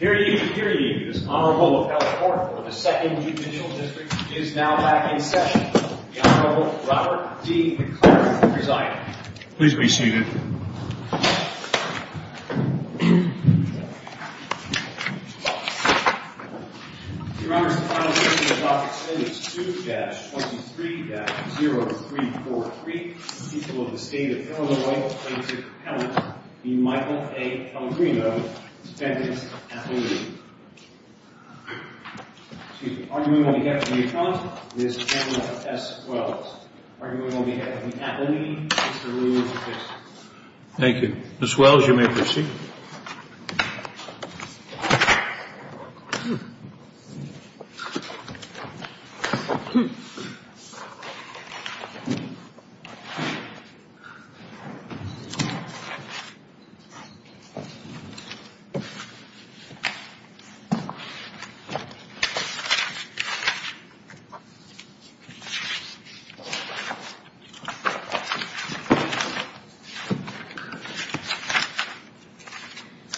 The Honorable Robert D. McCarty, presiding. The Honorable Robert D. McCarty, presiding. The Honorable Robert D. McCarty, presiding. The Honorable Robert D. McCarty, presiding.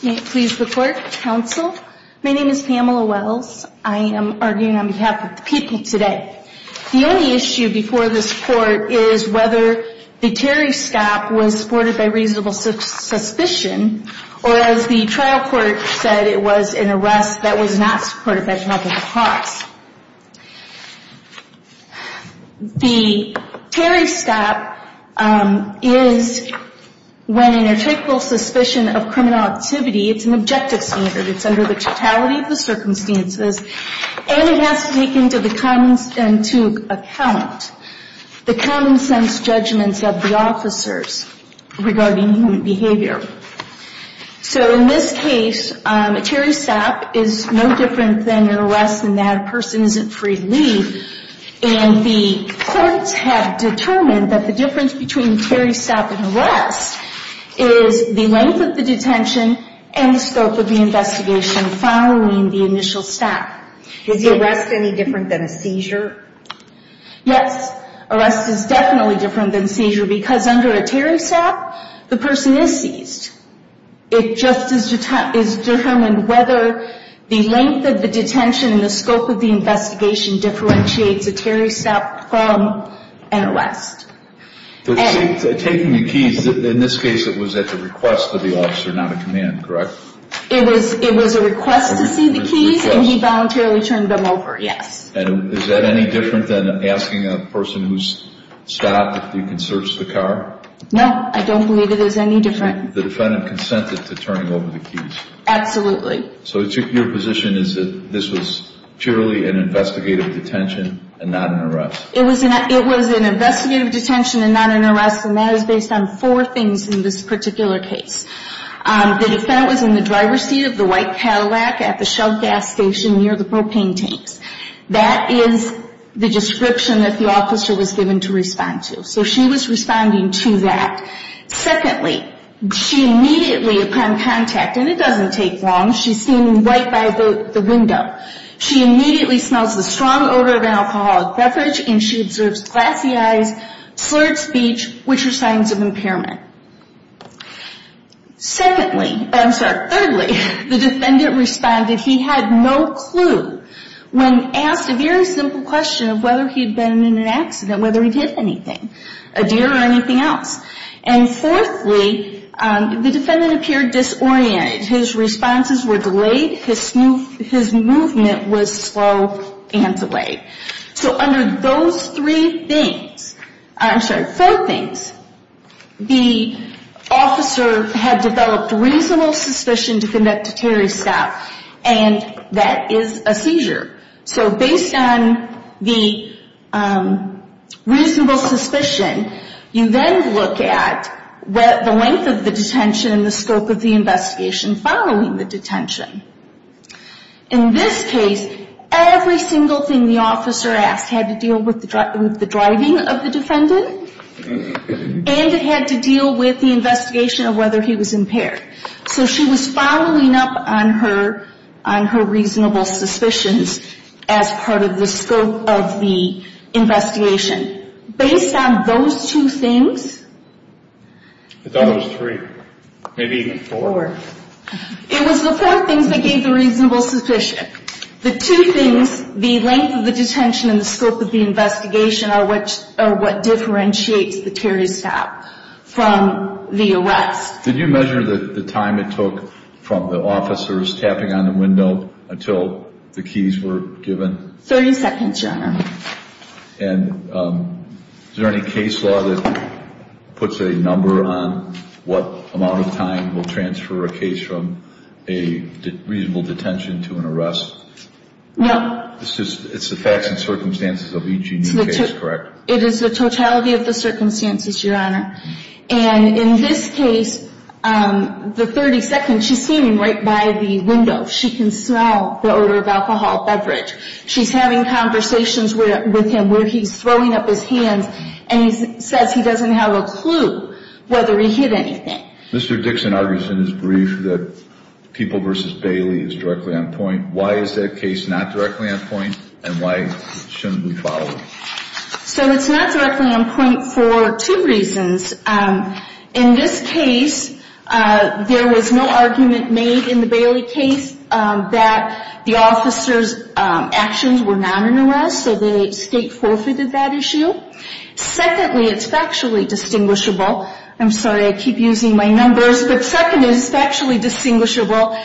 May it please the court, counsel. My name is Pamela Wells. I am arguing on behalf of the people today. The only issue before this court is whether the Terry stop was supported by reasonable suspicion or as the trial court said, it was an arrest that was not supported by general public cause. The Terry stop is when in a trickle suspicion of criminal activity, it's an objective standard. It's under the totality of the circumstances and it has to take into account the common sense judgments of the officers regarding human behavior. So in this case, a Terry stop is no different than an arrest in that a person isn't free to leave. And the courts have determined that the difference between Terry stop and arrest is the length of the detention and the scope of the investigation following the initial stop. Is the arrest any different than a seizure? Yes, arrest is definitely different than seizure because under a Terry stop, the person is seized. It just is determined whether the length of the detention and the scope of the investigation differentiates a Terry stop from an arrest. Taking the keys, in this case it was at the request of the officer, not a command, correct? It was a request to see the keys and he voluntarily turned them over, yes. And is that any different than asking a person who's stopped if you can search the car? No, I don't believe it is any different. The defendant consented to turning over the keys? Absolutely. So your position is that this was purely an investigative detention and not an arrest? It was an investigative detention and not an arrest and that is based on four things in this particular case. The defendant was in the driver's seat of the white Cadillac at the Shell gas station near the propane tanks. That is the description that the officer was given to respond to. So she was responding to that. Secondly, she immediately upon contact, and it doesn't take long, she's seen right by the window, she immediately smells the strong odor of an alcoholic beverage and she observes glassy eyes, slurred speech, which are signs of impairment. Thirdly, the defendant responded he had no clue when asked a very simple question of whether he'd been in an accident, whether he'd hit anything, a deer or anything else. And fourthly, the defendant appeared disoriented. His responses were delayed. His movement was slow and delayed. So under those three things, I'm sorry, four things, the officer had developed reasonable suspicion to conduct a terrorist attack and that is a seizure. So based on the reasonable suspicion, you then look at the length of the detention and the scope of the investigation following the detention. In this case, every single thing the officer asked had to deal with the driving of the defendant and it had to deal with the investigation of whether he was impaired. So she was following up on her reasonable suspicions as part of the scope of the investigation. Based on those two things. It was the four things that gave the reasonable suspicion. The two things, the length of the detention and the scope of the investigation, are what differentiates the terrorist attack from the arrest. Did you measure the time it took from the officers tapping on the window until the keys were given? Thirty seconds, Your Honor. And is there any case law that puts a number on what amount of time will transfer a case from a reasonable detention to an arrest? No. It's the facts and circumstances of each unique case, correct? It is the totality of the circumstances, Your Honor. And in this case, the 30 seconds, she's standing right by the window. She can smell the odor of alcohol, beverage. She's having conversations with him where he's throwing up his hands and he says he doesn't have a clue whether he hid anything. Mr. Dixon argues in his brief that People v. Bailey is directly on point. Why is that case not directly on point and why shouldn't we follow it? So it's not directly on point for two reasons. In this case, there was no argument made in the Bailey case that the officers' actions were not an arrest, so the state forfeited that issue. Secondly, it's factually distinguishable. I'm sorry, I keep using my numbers. But second, it's factually distinguishable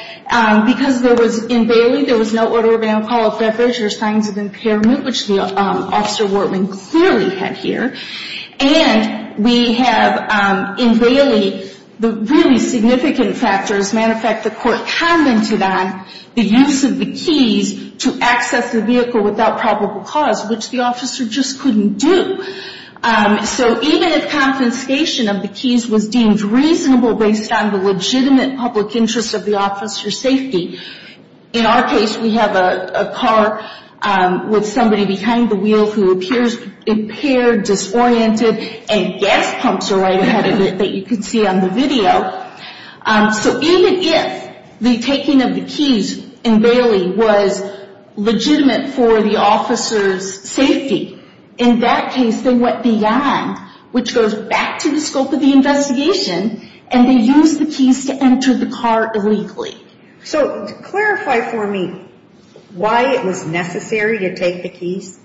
because there was, in Bailey, there was no odor of alcohol, beverage, or signs of impairment, which the officer Wortman clearly had here. And we have, in Bailey, the really significant factors. Matter of fact, the court commented on the use of the keys to access the vehicle without probable cause, which the officer just couldn't do. So even if confiscation of the keys was deemed reasonable based on the legitimate public interest of the officer's safety, in our case, we have a car with somebody behind the wheel who appears impaired, disoriented, and gas pumps are right ahead of it that you can see on the video. So even if the taking of the keys in Bailey was legitimate for the officer's safety, in that case, they went beyond, which goes back to the scope of the investigation, and they used the keys to enter the car illegally. So clarify for me why it was necessary to take the keys?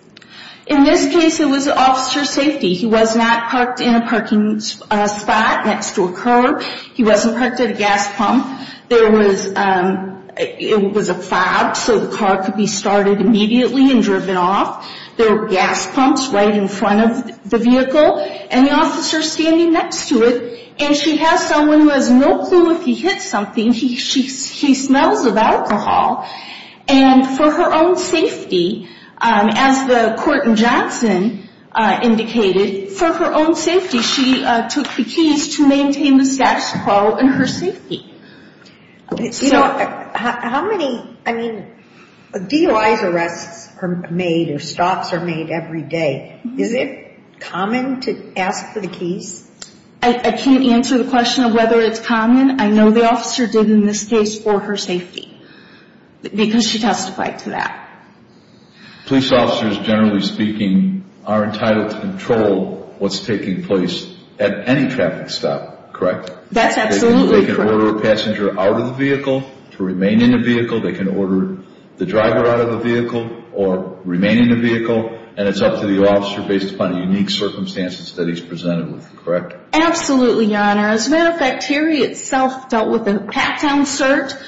In this case, it was the officer's safety. He was not parked in a parking spot next to a car. He wasn't parked at a gas pump. There was a fob so the car could be started immediately and driven off. There were gas pumps right in front of the vehicle, and the officer's standing next to it, and she has someone who has no clue if he hit something. He smells of alcohol. And for her own safety, as the court in Johnson indicated, for her own safety, she took the keys to maintain the status quo and her safety. You know, how many DOI arrests are made or stops are made every day? Is it common to ask for the keys? I can't answer the question of whether it's common. I know the officer did in this case for her safety because she testified to that. Police officers, generally speaking, are entitled to control what's taking place at any traffic stop, correct? That's absolutely correct. They can order a passenger out of the vehicle to remain in the vehicle. They can order the driver out of the vehicle or remain in the vehicle, and it's up to the officer based upon the unique circumstances that he's presented with, correct? Absolutely, Your Honor. As a matter of fact, Terry itself dealt with a pat-down search,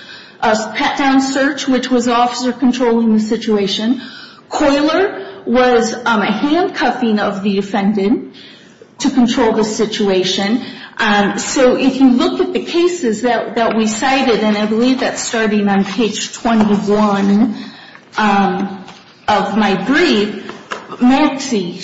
which was the officer controlling the situation. Coiler was a handcuffing of the offendant to control the situation. So if you look at the cases that we cited, and I believe that's starting on page 21 of my brief, Maxie,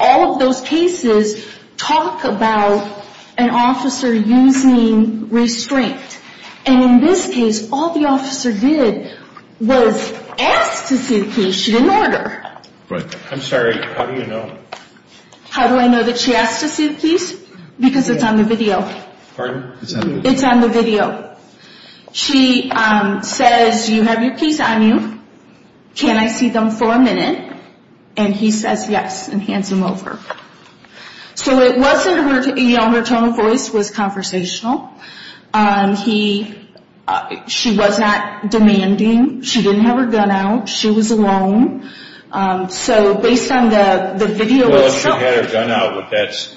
all of those cases talk about an officer using restraint. And in this case, all the officer did was ask to see the keys. She didn't order. I'm sorry. How do you know? How do I know that she asked to see the keys? Because it's on the video. Pardon? It's on the video. She says, you have your keys on you. Can I see them for a minute? And he says, yes, and hands them over. So it wasn't her, you know, her tone of voice was conversational. She was not demanding. She didn't have her gun out. She was alone. So based on the video itself. Unless she had her gun out, would that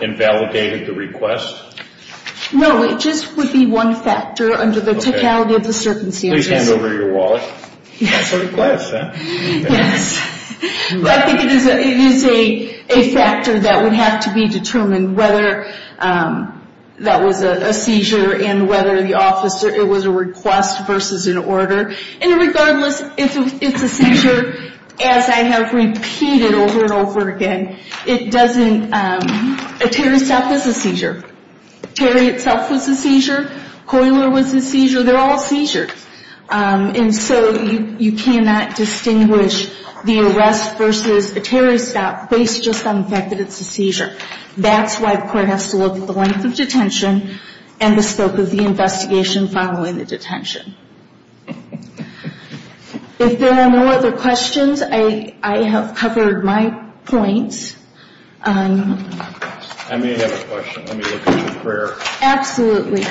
invalidate the request? No, it just would be one factor under the totality of the circumstances. Please hand over your wallet. That's a request, huh? Yes. But I think it is a factor that would have to be determined whether that was a seizure and whether the officer, it was a request versus an order. And regardless, if it's a seizure, as I have repeated over and over again, it doesn't, A tear itself was a seizure. Coiler was a seizure. They're all seizures. And so you cannot distinguish the arrest versus a tear stop based just on the fact that it's a seizure. That's why the court has to look at the length of detention and the scope of the investigation following the detention. If there are no other questions, I have covered my points. I may have a question. Let me look at your prayer. Absolutely.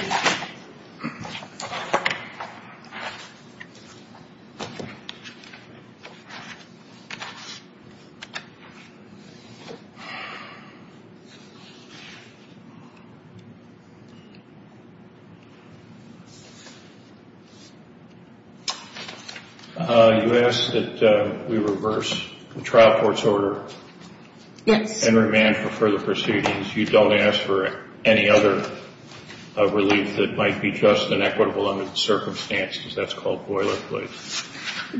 You asked that we reverse the trial court's order. Yes. And remand for further proceedings. You don't ask for any other relief that might be just and equitable under the circumstances. That's called boilerplate.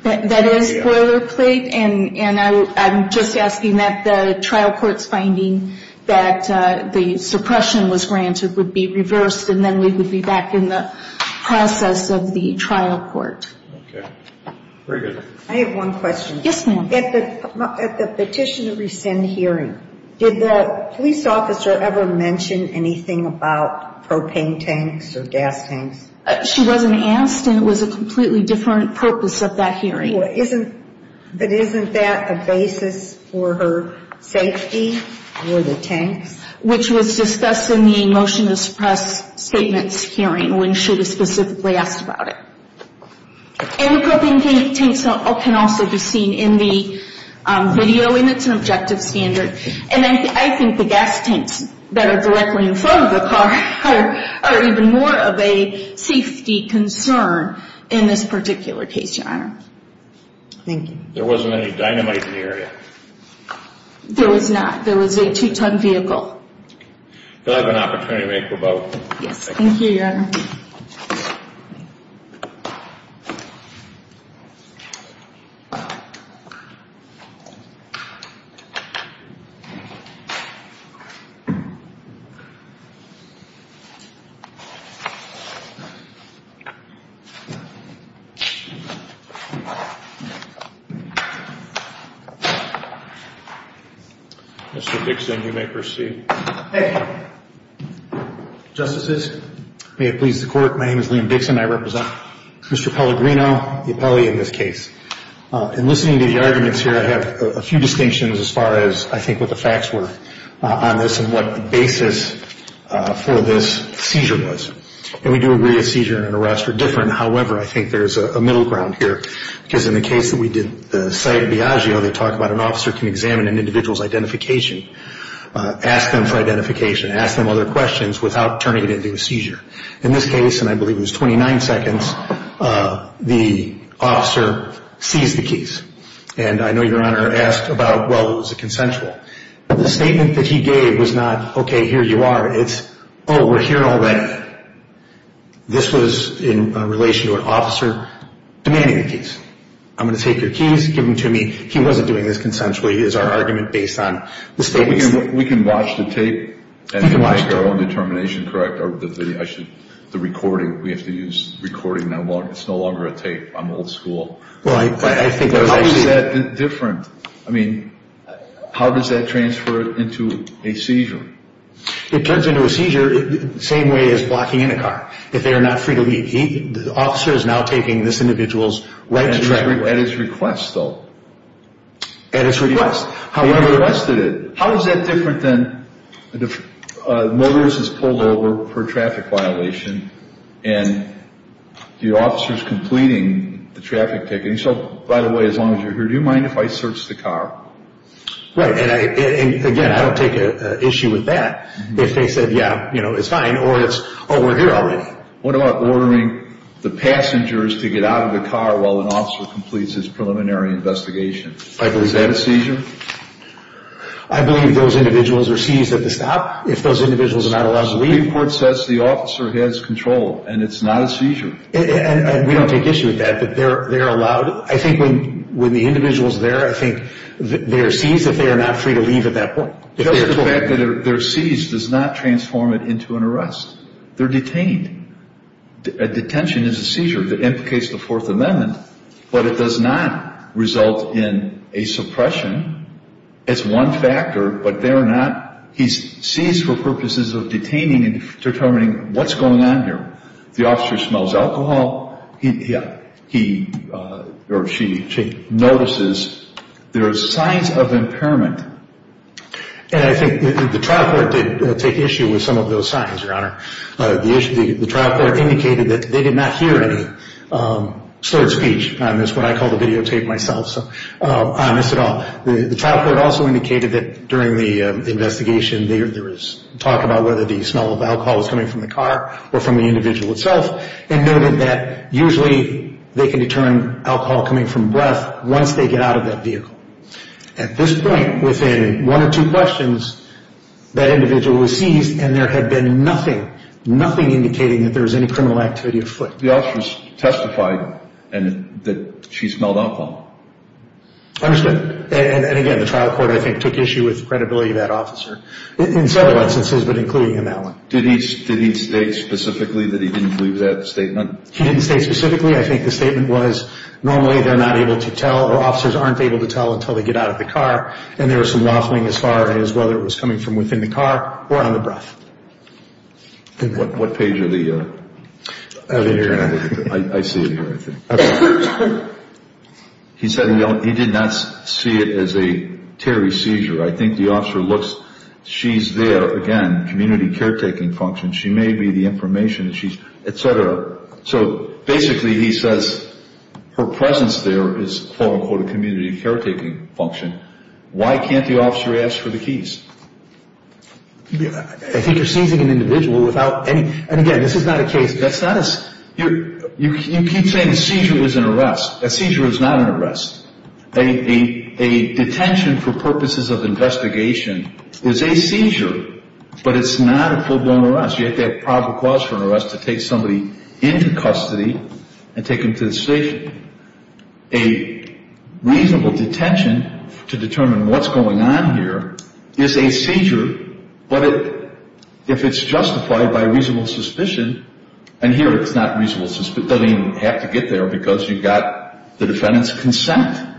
That is boilerplate. And I'm just asking that the trial court's finding that the suppression was granted would be reversed, and then we would be back in the process of the trial court. Okay. Very good. I have one question. Yes, ma'am. At the petition to rescind hearing, did the police officer ever mention anything about propane tanks or gas tanks? She wasn't asked, and it was a completely different purpose of that hearing. But isn't that a basis for her safety for the tanks? Which was discussed in the motion to suppress statements hearing when she was specifically asked about it. And the propane tanks can also be seen in the video, and it's an objective standard. And I think the gas tanks that are directly in front of the car are even more of a safety concern in this particular case, Your Honor. Thank you. There wasn't any dynamite in the area. There was not. There was a two-ton vehicle. Do I have an opportunity to make a rebuttal? Yes. Thank you, Your Honor. Mr. Dixon, you may proceed. Thank you. Justices, may it please the Court, my name is Liam Dixon. I represent Mr. Pellegrino, the appellee in this case. In listening to the arguments here, I have a few distinctions as far as I think what the facts were on this and what the basis for this seizure was. And we do agree a seizure and an arrest are different. However, I think there's a middle ground here because in the case that we did, the site of Biagio, they talk about an officer can examine an individual's identification, ask them for identification, ask them other questions without turning it into a seizure. In this case, and I believe it was 29 seconds, the officer seized the keys. And I know Your Honor asked about, well, it was a consensual. The statement that he gave was not, okay, here you are. It's, oh, we're here already. This was in relation to an officer demanding the keys. I'm going to take your keys, give them to me. He wasn't doing this consensually is our argument based on the statements. We can watch the tape and make our own determination, correct? The recording, we have to use recording. It's no longer a tape. I'm old school. How is that different? I mean, how does that transfer into a seizure? It turns into a seizure the same way as blocking in a car if they are not free to leave. The officer is now taking this individual's right to drive. At his request, though. At his request. They requested it. How is that different than the motorist is pulled over for traffic violation and the officer is completing the traffic ticket. And he said, by the way, as long as you're here, do you mind if I search the car? Right. And, again, I don't take issue with that. If they said, yeah, it's fine, or it's, oh, we're here already. What about ordering the passengers to get out of the car while an officer completes his preliminary investigation? Is that a seizure? I believe those individuals are seized at the stop. If those individuals are not allowed to leave. The Supreme Court says the officer has control, and it's not a seizure. And we don't take issue with that. But they are allowed. I think when the individual is there, I think they are seized if they are not free to leave at that point. Because of the fact that they're seized does not transform it into an arrest. They're detained. A detention is a seizure that implicates the Fourth Amendment, but it does not result in a suppression. It's one factor, but they're not. He's seized for purposes of detaining and determining what's going on here. If the officer smells alcohol, he or she notices there are signs of impairment. And I think the trial court did take issue with some of those signs, Your Honor. The trial court indicated that they did not hear any slurred speech. That's what I call the videotape myself, so I'm honest at all. The trial court also indicated that during the investigation, there was talk about whether the smell of alcohol was coming from the car or from the individual itself, and noted that usually they can determine alcohol coming from breath once they get out of that vehicle. At this point, within one or two questions, that individual was seized, and there had been nothing, nothing indicating that there was any criminal activity afoot. The officer testified that she smelled alcohol. Understood. And again, the trial court, I think, took issue with the credibility of that officer in several instances, but including in that one. Did he state specifically that he didn't believe that statement? He didn't state specifically. I think the statement was normally they're not able to tell or officers aren't able to tell until they get out of the car, and there was some waffling as far as whether it was coming from within the car or on the breath. What page of the internet? I see it here, I think. He said he did not see it as a terry seizure. I think the officer looks, she's there, again, community caretaking function, she may be the information, et cetera. So basically he says her presence there is, quote-unquote, a community caretaking function. Why can't the officer ask for the keys? I think you're seizing an individual without any, and again, this is not a case. You keep saying a seizure is an arrest. A seizure is not an arrest. A detention for purposes of investigation is a seizure, but it's not a full-blown arrest. You have to have proper cause for an arrest to take somebody into custody and take them to the station. A reasonable detention to determine what's going on here is a seizure, but if it's justified by reasonable suspicion, and here it's not reasonable suspicion. It doesn't even have to get there because you've got the defendant's consent.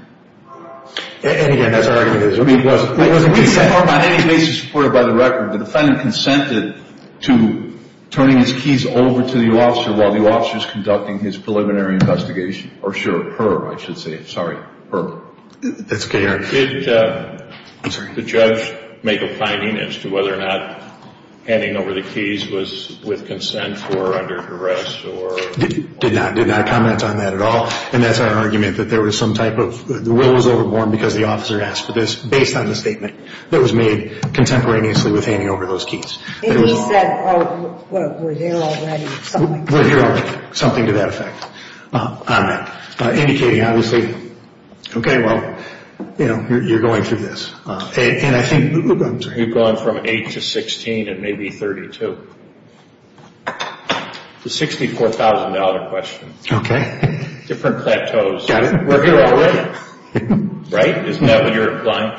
And again, that's our argument. On any basis supported by the record, the defendant consented to turning his keys over to the officer while the officer is conducting his preliminary investigation. Or her, I should say. Sorry, her. That's okay, Eric. Did the judge make a finding as to whether or not handing over the keys was with consent or under duress? Did not. Did not comment on that at all. And that's our argument, that there was some type of, the will was overborne because the officer asked for this, based on the statement that was made contemporaneously with handing over those keys. And he said, oh, well, we're here already. We're here already. Something to that effect. Indicating, obviously, okay, well, you know, you're going through this. And I think. You've gone from 8 to 16 and maybe 32. It's a $64,000 question. Okay. Different plateaus. Got it. We're here already. Right? Isn't that what you're implying?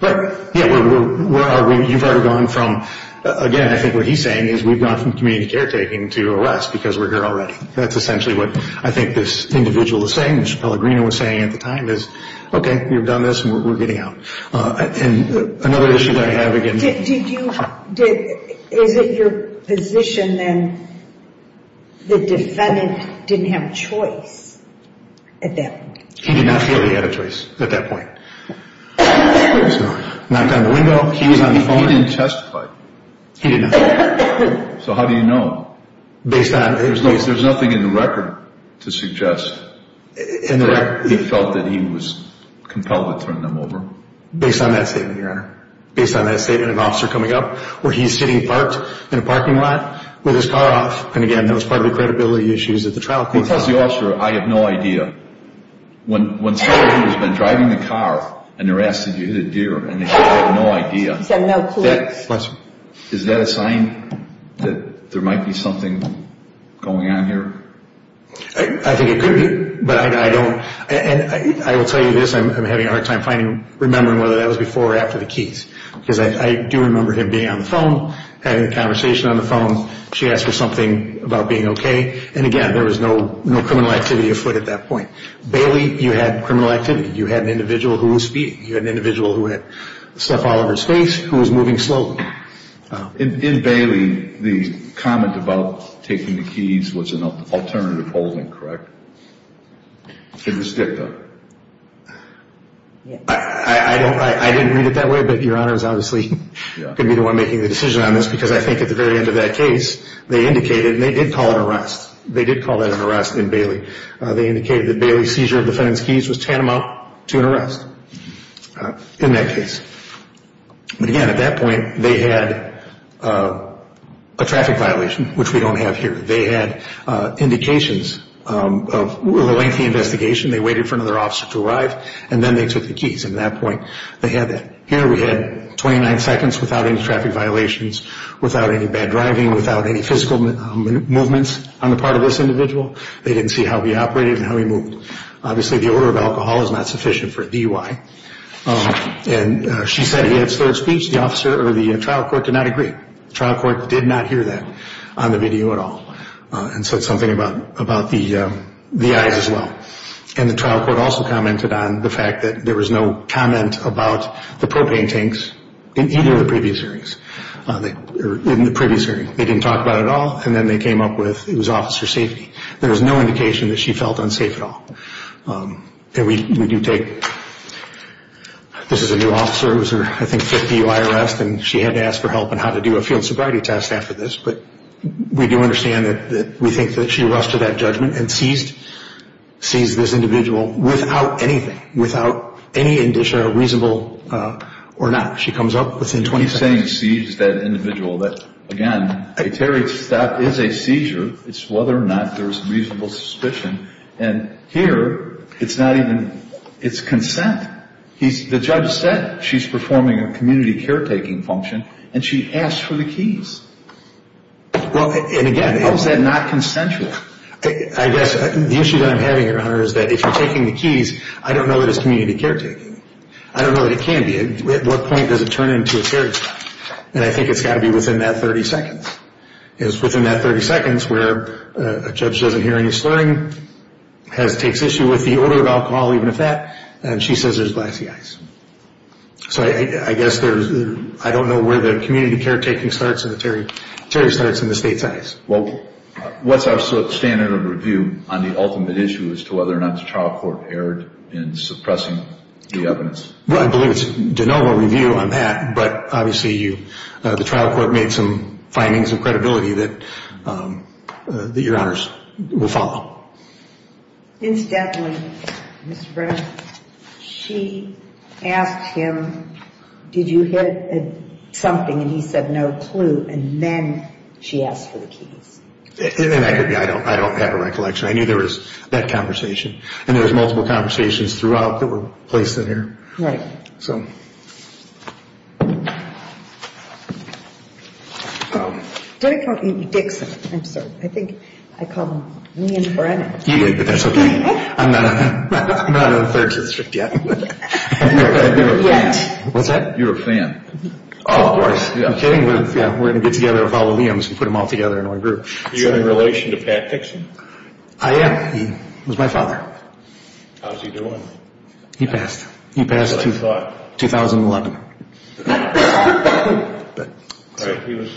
Right. Yeah. Where are we? You've already gone from, again, I think what he's saying is we've gone from community caretaking to arrest because we're here already. That's essentially what I think this individual is saying, which Pellegrino was saying at the time is, okay, we've done this and we're getting out. And another issue that I have again. Is it your position then the defendant didn't have a choice at that point? He did not feel he had a choice at that point. Knocked on the window. He was on the phone. He didn't testify. He didn't. So how do you know? Based on. There's nothing in the record to suggest that he felt that he was compelled to turn them over. Based on that statement, Your Honor. Based on that statement. An officer coming up where he's sitting parked in a parking lot with his car off. And, again, that was part of the credibility issues at the trial court. He tells the officer, I have no idea. When someone who has been driving the car and they're asked if he hit a deer and they say they have no idea. He said no clue. Is that a sign that there might be something going on here? I think it could be. But I don't. And I will tell you this, I'm having a hard time remembering whether that was before or after the keys. Because I do remember him being on the phone, having a conversation on the phone. She asked for something about being okay. And, again, there was no criminal activity afoot at that point. Bailey, you had criminal activity. You had an individual who was speeding. You had an individual who had slapped Oliver's face, who was moving slowly. In Bailey, the comment about taking the keys was an alternative holding, correct? It was good, though. I didn't read it that way, but Your Honor is obviously going to be the one making the decision on this. Because I think at the very end of that case, they indicated, and they did call it an arrest. They did call that an arrest in Bailey. They indicated that Bailey's seizure of the defendant's keys was tantamount to an arrest in that case. But, again, at that point, they had a traffic violation, which we don't have here. They had indications of a lengthy investigation. They waited for another officer to arrive, and then they took the keys. At that point, they had that. Here we had 29 seconds without any traffic violations, without any bad driving, without any physical movements on the part of this individual. They didn't see how he operated and how he moved. Obviously, the order of alcohol is not sufficient for DUI. And she said he had third speech. The trial court did not agree. The trial court did not hear that on the video at all and said something about the eyes as well. And the trial court also commented on the fact that there was no comment about the propane tanks in either of the previous hearings. In the previous hearing, they didn't talk about it at all, and then they came up with it was officer safety. There was no indication that she felt unsafe at all. And we do take, this is a new officer. It was her, I think, 50th DUI arrest, and she had to ask for help on how to do a field sobriety test after this. But we do understand that we think that she arrested that judgment and seized this individual without anything, without any indication of reasonable or not. She comes up within 20 seconds. He's saying seized that individual. Again, a Terry stop is a seizure. It's whether or not there's reasonable suspicion. And here, it's not even, it's consent. The judge said she's performing a community caretaking function, and she asked for the keys. And again, how is that not consensual? I guess the issue that I'm having here, Hunter, is that if you're taking the keys, I don't know that it's community caretaking. I don't know that it can be. At what point does it turn into a Terry stop? And I think it's got to be within that 30 seconds. It's within that 30 seconds where a judge doesn't hear any slurring, takes issue with the odor of alcohol, even if that, and she says there's glassy eyes. So I guess there's, I don't know where the community caretaking starts and the Terry starts in the state's eyes. Well, what's our standard of review on the ultimate issue as to whether or not the trial court erred in suppressing the evidence? Well, I believe it's de novo review on that. But obviously the trial court made some findings of credibility that your honors will follow. Incidentally, Mr. Brennan, she asked him, did you hit something, and he said no clue. And then she asked for the keys. And I don't have a recollection. I knew there was that conversation. And there was multiple conversations throughout that were placed in here. Right. So. Did I call you Dixon? I'm sorry. I think I called him Liam Brennan. You did, but that's okay. I'm not on the third district yet. I've never been. Yet. What's that? You're a fan. Oh, of course. I'm kidding, but yeah, we're going to get together and follow Liam's and put him all together in one group. Are you in relation to Pat Dixon? I am. He was my father. How's he doing? He passed. He passed? That's what I thought. 2011. He was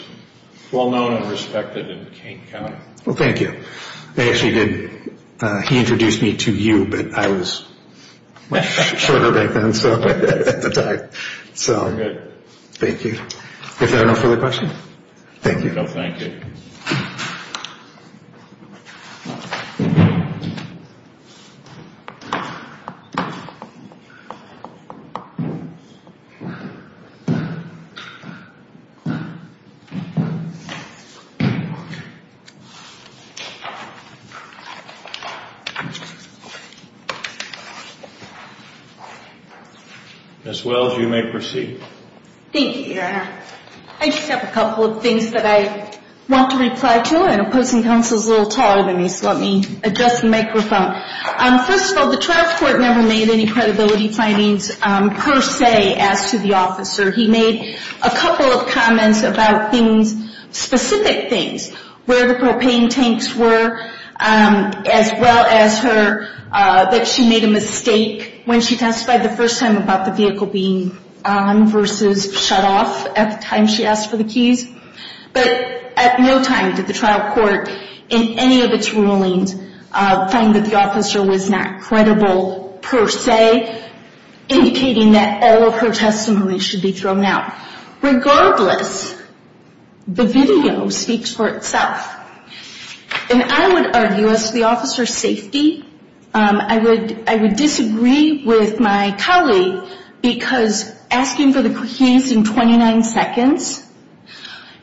well known and respected in Kane County. Well, thank you. They actually did. He introduced me to you, but I was much shorter back then at the time. So. Very good. Thank you. Is there no further questions? Thank you. No, thank you. Ms. Wells, you may proceed. I just have a couple of things that I want to reply to. I know opposing counsel is a little taller than me, so let me adjust the microphone. First of all, the trial court never made any credibility findings per se as to the officer. He made a couple of comments about things, specific things, where the propane tanks were, as well as her, that she made a mistake when she testified the first time about the vehicle being on versus shut off at the time she asked for the keys. But at no time did the trial court in any of its rulings find that the officer was not credible per se, indicating that all of her testimony should be thrown out. Regardless, the video speaks for itself. And I would argue as to the officer's safety, I would disagree with my colleague because asking for the keys in 29 seconds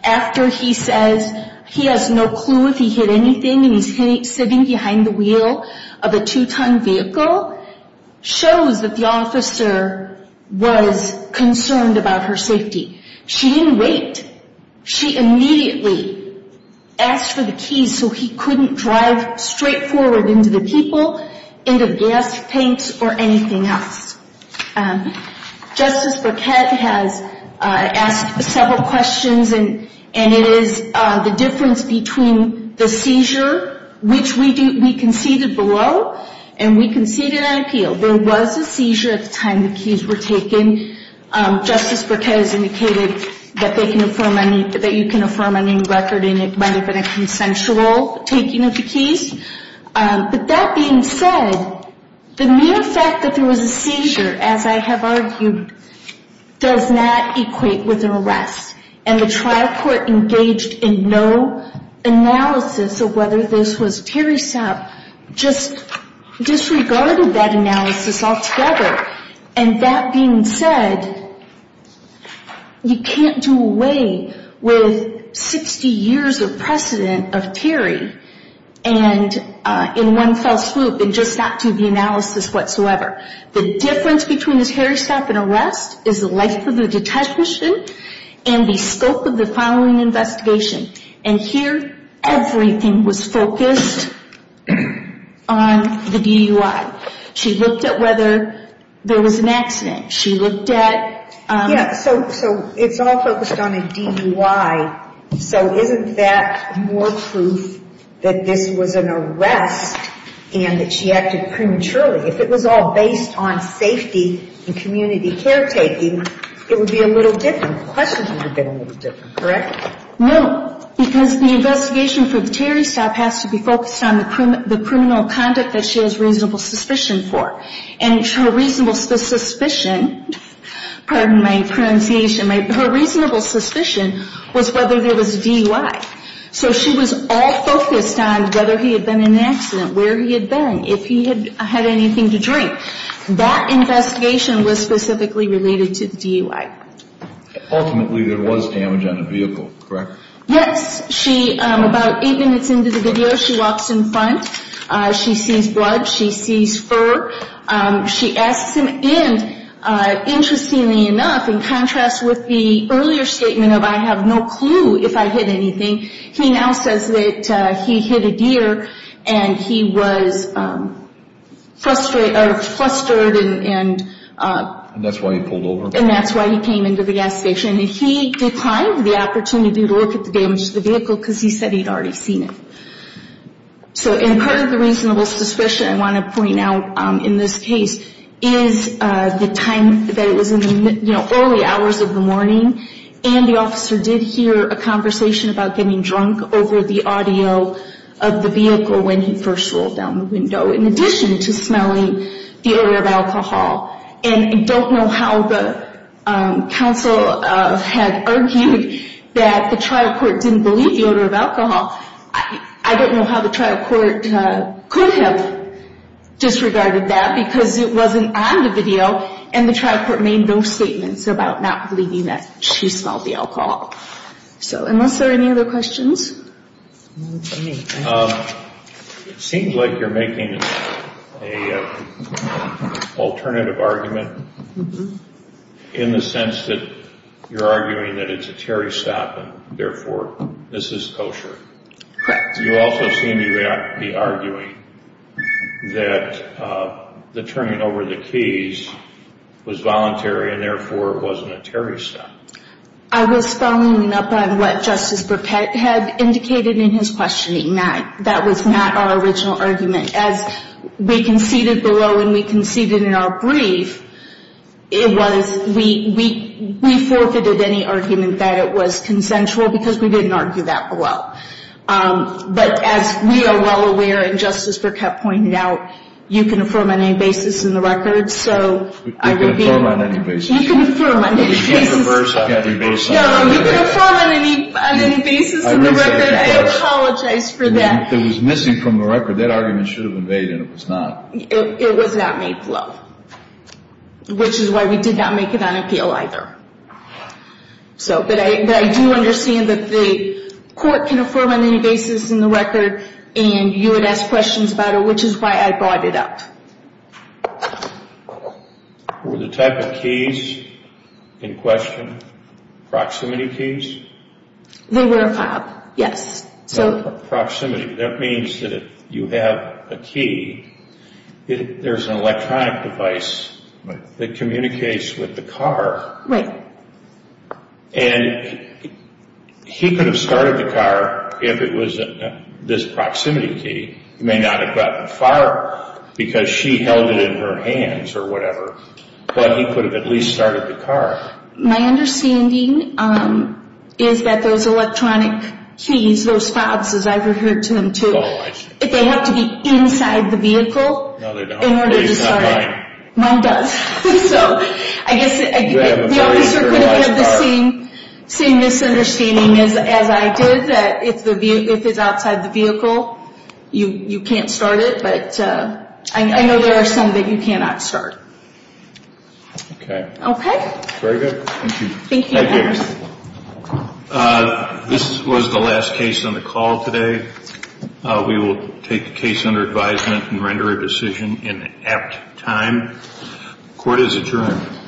after he says he has no clue if he hit anything and he's sitting behind the wheel of a two-ton vehicle shows that the officer was concerned about her safety. She didn't wait. She immediately asked for the keys so he couldn't drive straight forward into the people, into gas tanks or anything else. Justice Burkett has asked several questions, and it is the difference between the seizure, which we conceded below, and we conceded on appeal. There was a seizure at the time the keys were taken. Justice Burkett has indicated that you can affirm a name record, and it might have been a consensual taking of the keys. But that being said, the mere fact that there was a seizure, as I have argued, does not equate with an arrest. And the trial court engaged in no analysis of whether this was Terry Sapp, just disregarded that analysis altogether. And that being said, you can't do away with 60 years of precedent of Terry. And in one fell swoop, and just not do the analysis whatsoever. The difference between this Terry Sapp and arrest is the life of the detachment and the scope of the following investigation. And here, everything was focused on the DUI. She looked at whether there was an accident. She looked at... Yeah, so it's all focused on a DUI. So isn't that more proof that this was an arrest and that she acted prematurely? If it was all based on safety and community caretaking, it would be a little different. The questions would have been a little different, correct? No, because the investigation for Terry Sapp has to be focused on the criminal conduct that she has reasonable suspicion for. And her reasonable suspicion, pardon my pronunciation, her reasonable suspicion was whether there was a DUI. So she was all focused on whether he had been in an accident, where he had been, if he had anything to drink. That investigation was specifically related to the DUI. Ultimately, there was damage on a vehicle, correct? Yes. About eight minutes into the video, she walks in front. She sees blood. She sees fur. She asks him in. Interestingly enough, in contrast with the earlier statement of, I have no clue if I hit anything, he now says that he hit a deer and he was flustered and... And that's why he pulled over. And that's why he came into the gas station. And he declined the opportunity to look at the damage to the vehicle because he said he'd already seen it. So part of the reasonable suspicion I want to point out in this case is the time that it was in the early hours of the morning. And the officer did hear a conversation about getting drunk over the audio of the vehicle when he first rolled down the window, in addition to smelling the odor of alcohol. And I don't know how the counsel had argued that the trial court didn't believe the odor of alcohol. I don't know how the trial court could have disregarded that because it wasn't on the video and the trial court made no statements about not believing that she smelled the alcohol. So unless there are any other questions? It seems like you're making an alternative argument in the sense that you're arguing that it's a Terry stop and therefore this is kosher. Correct. You also seem to be arguing that the turning over the keys was voluntary and therefore it wasn't a Terry stop. I was following up on what Justice Burkett had indicated in his questioning. That was not our original argument. As we conceded below and we conceded in our brief, we forfeited any argument that it was consensual because we didn't argue that below. But as we are well aware, and Justice Burkett pointed out, you can affirm on any basis in the record. We can affirm on any basis. No, you can affirm on any basis in the record. I apologize for that. If it was missing from the record, that argument should have been made and it was not. It was not made below, which is why we did not make it on appeal either. But I do understand that the court can affirm on any basis in the record and you would ask questions about it, which is why I brought it up. Were the type of keys in question proximity keys? They were filed, yes. Proximity, that means that if you have a key, there's an electronic device that communicates with the car. Right. And he could have started the car if it was this proximity key. He may not have gotten far because she held it in her hands or whatever, but he could have at least started the car. My understanding is that those electronic keys, those fobs, as I've referred to them too, if they have to be inside the vehicle in order to start it, mine does. So I guess the officer could have had the same misunderstanding as I did, that if it's outside the vehicle, you can't start it. But I know there are some that you cannot start. Okay. Okay. Very good. Thank you. Thank you. This was the last case on the call today. We will take the case under advisement and render a decision in apt time. Court is adjourned.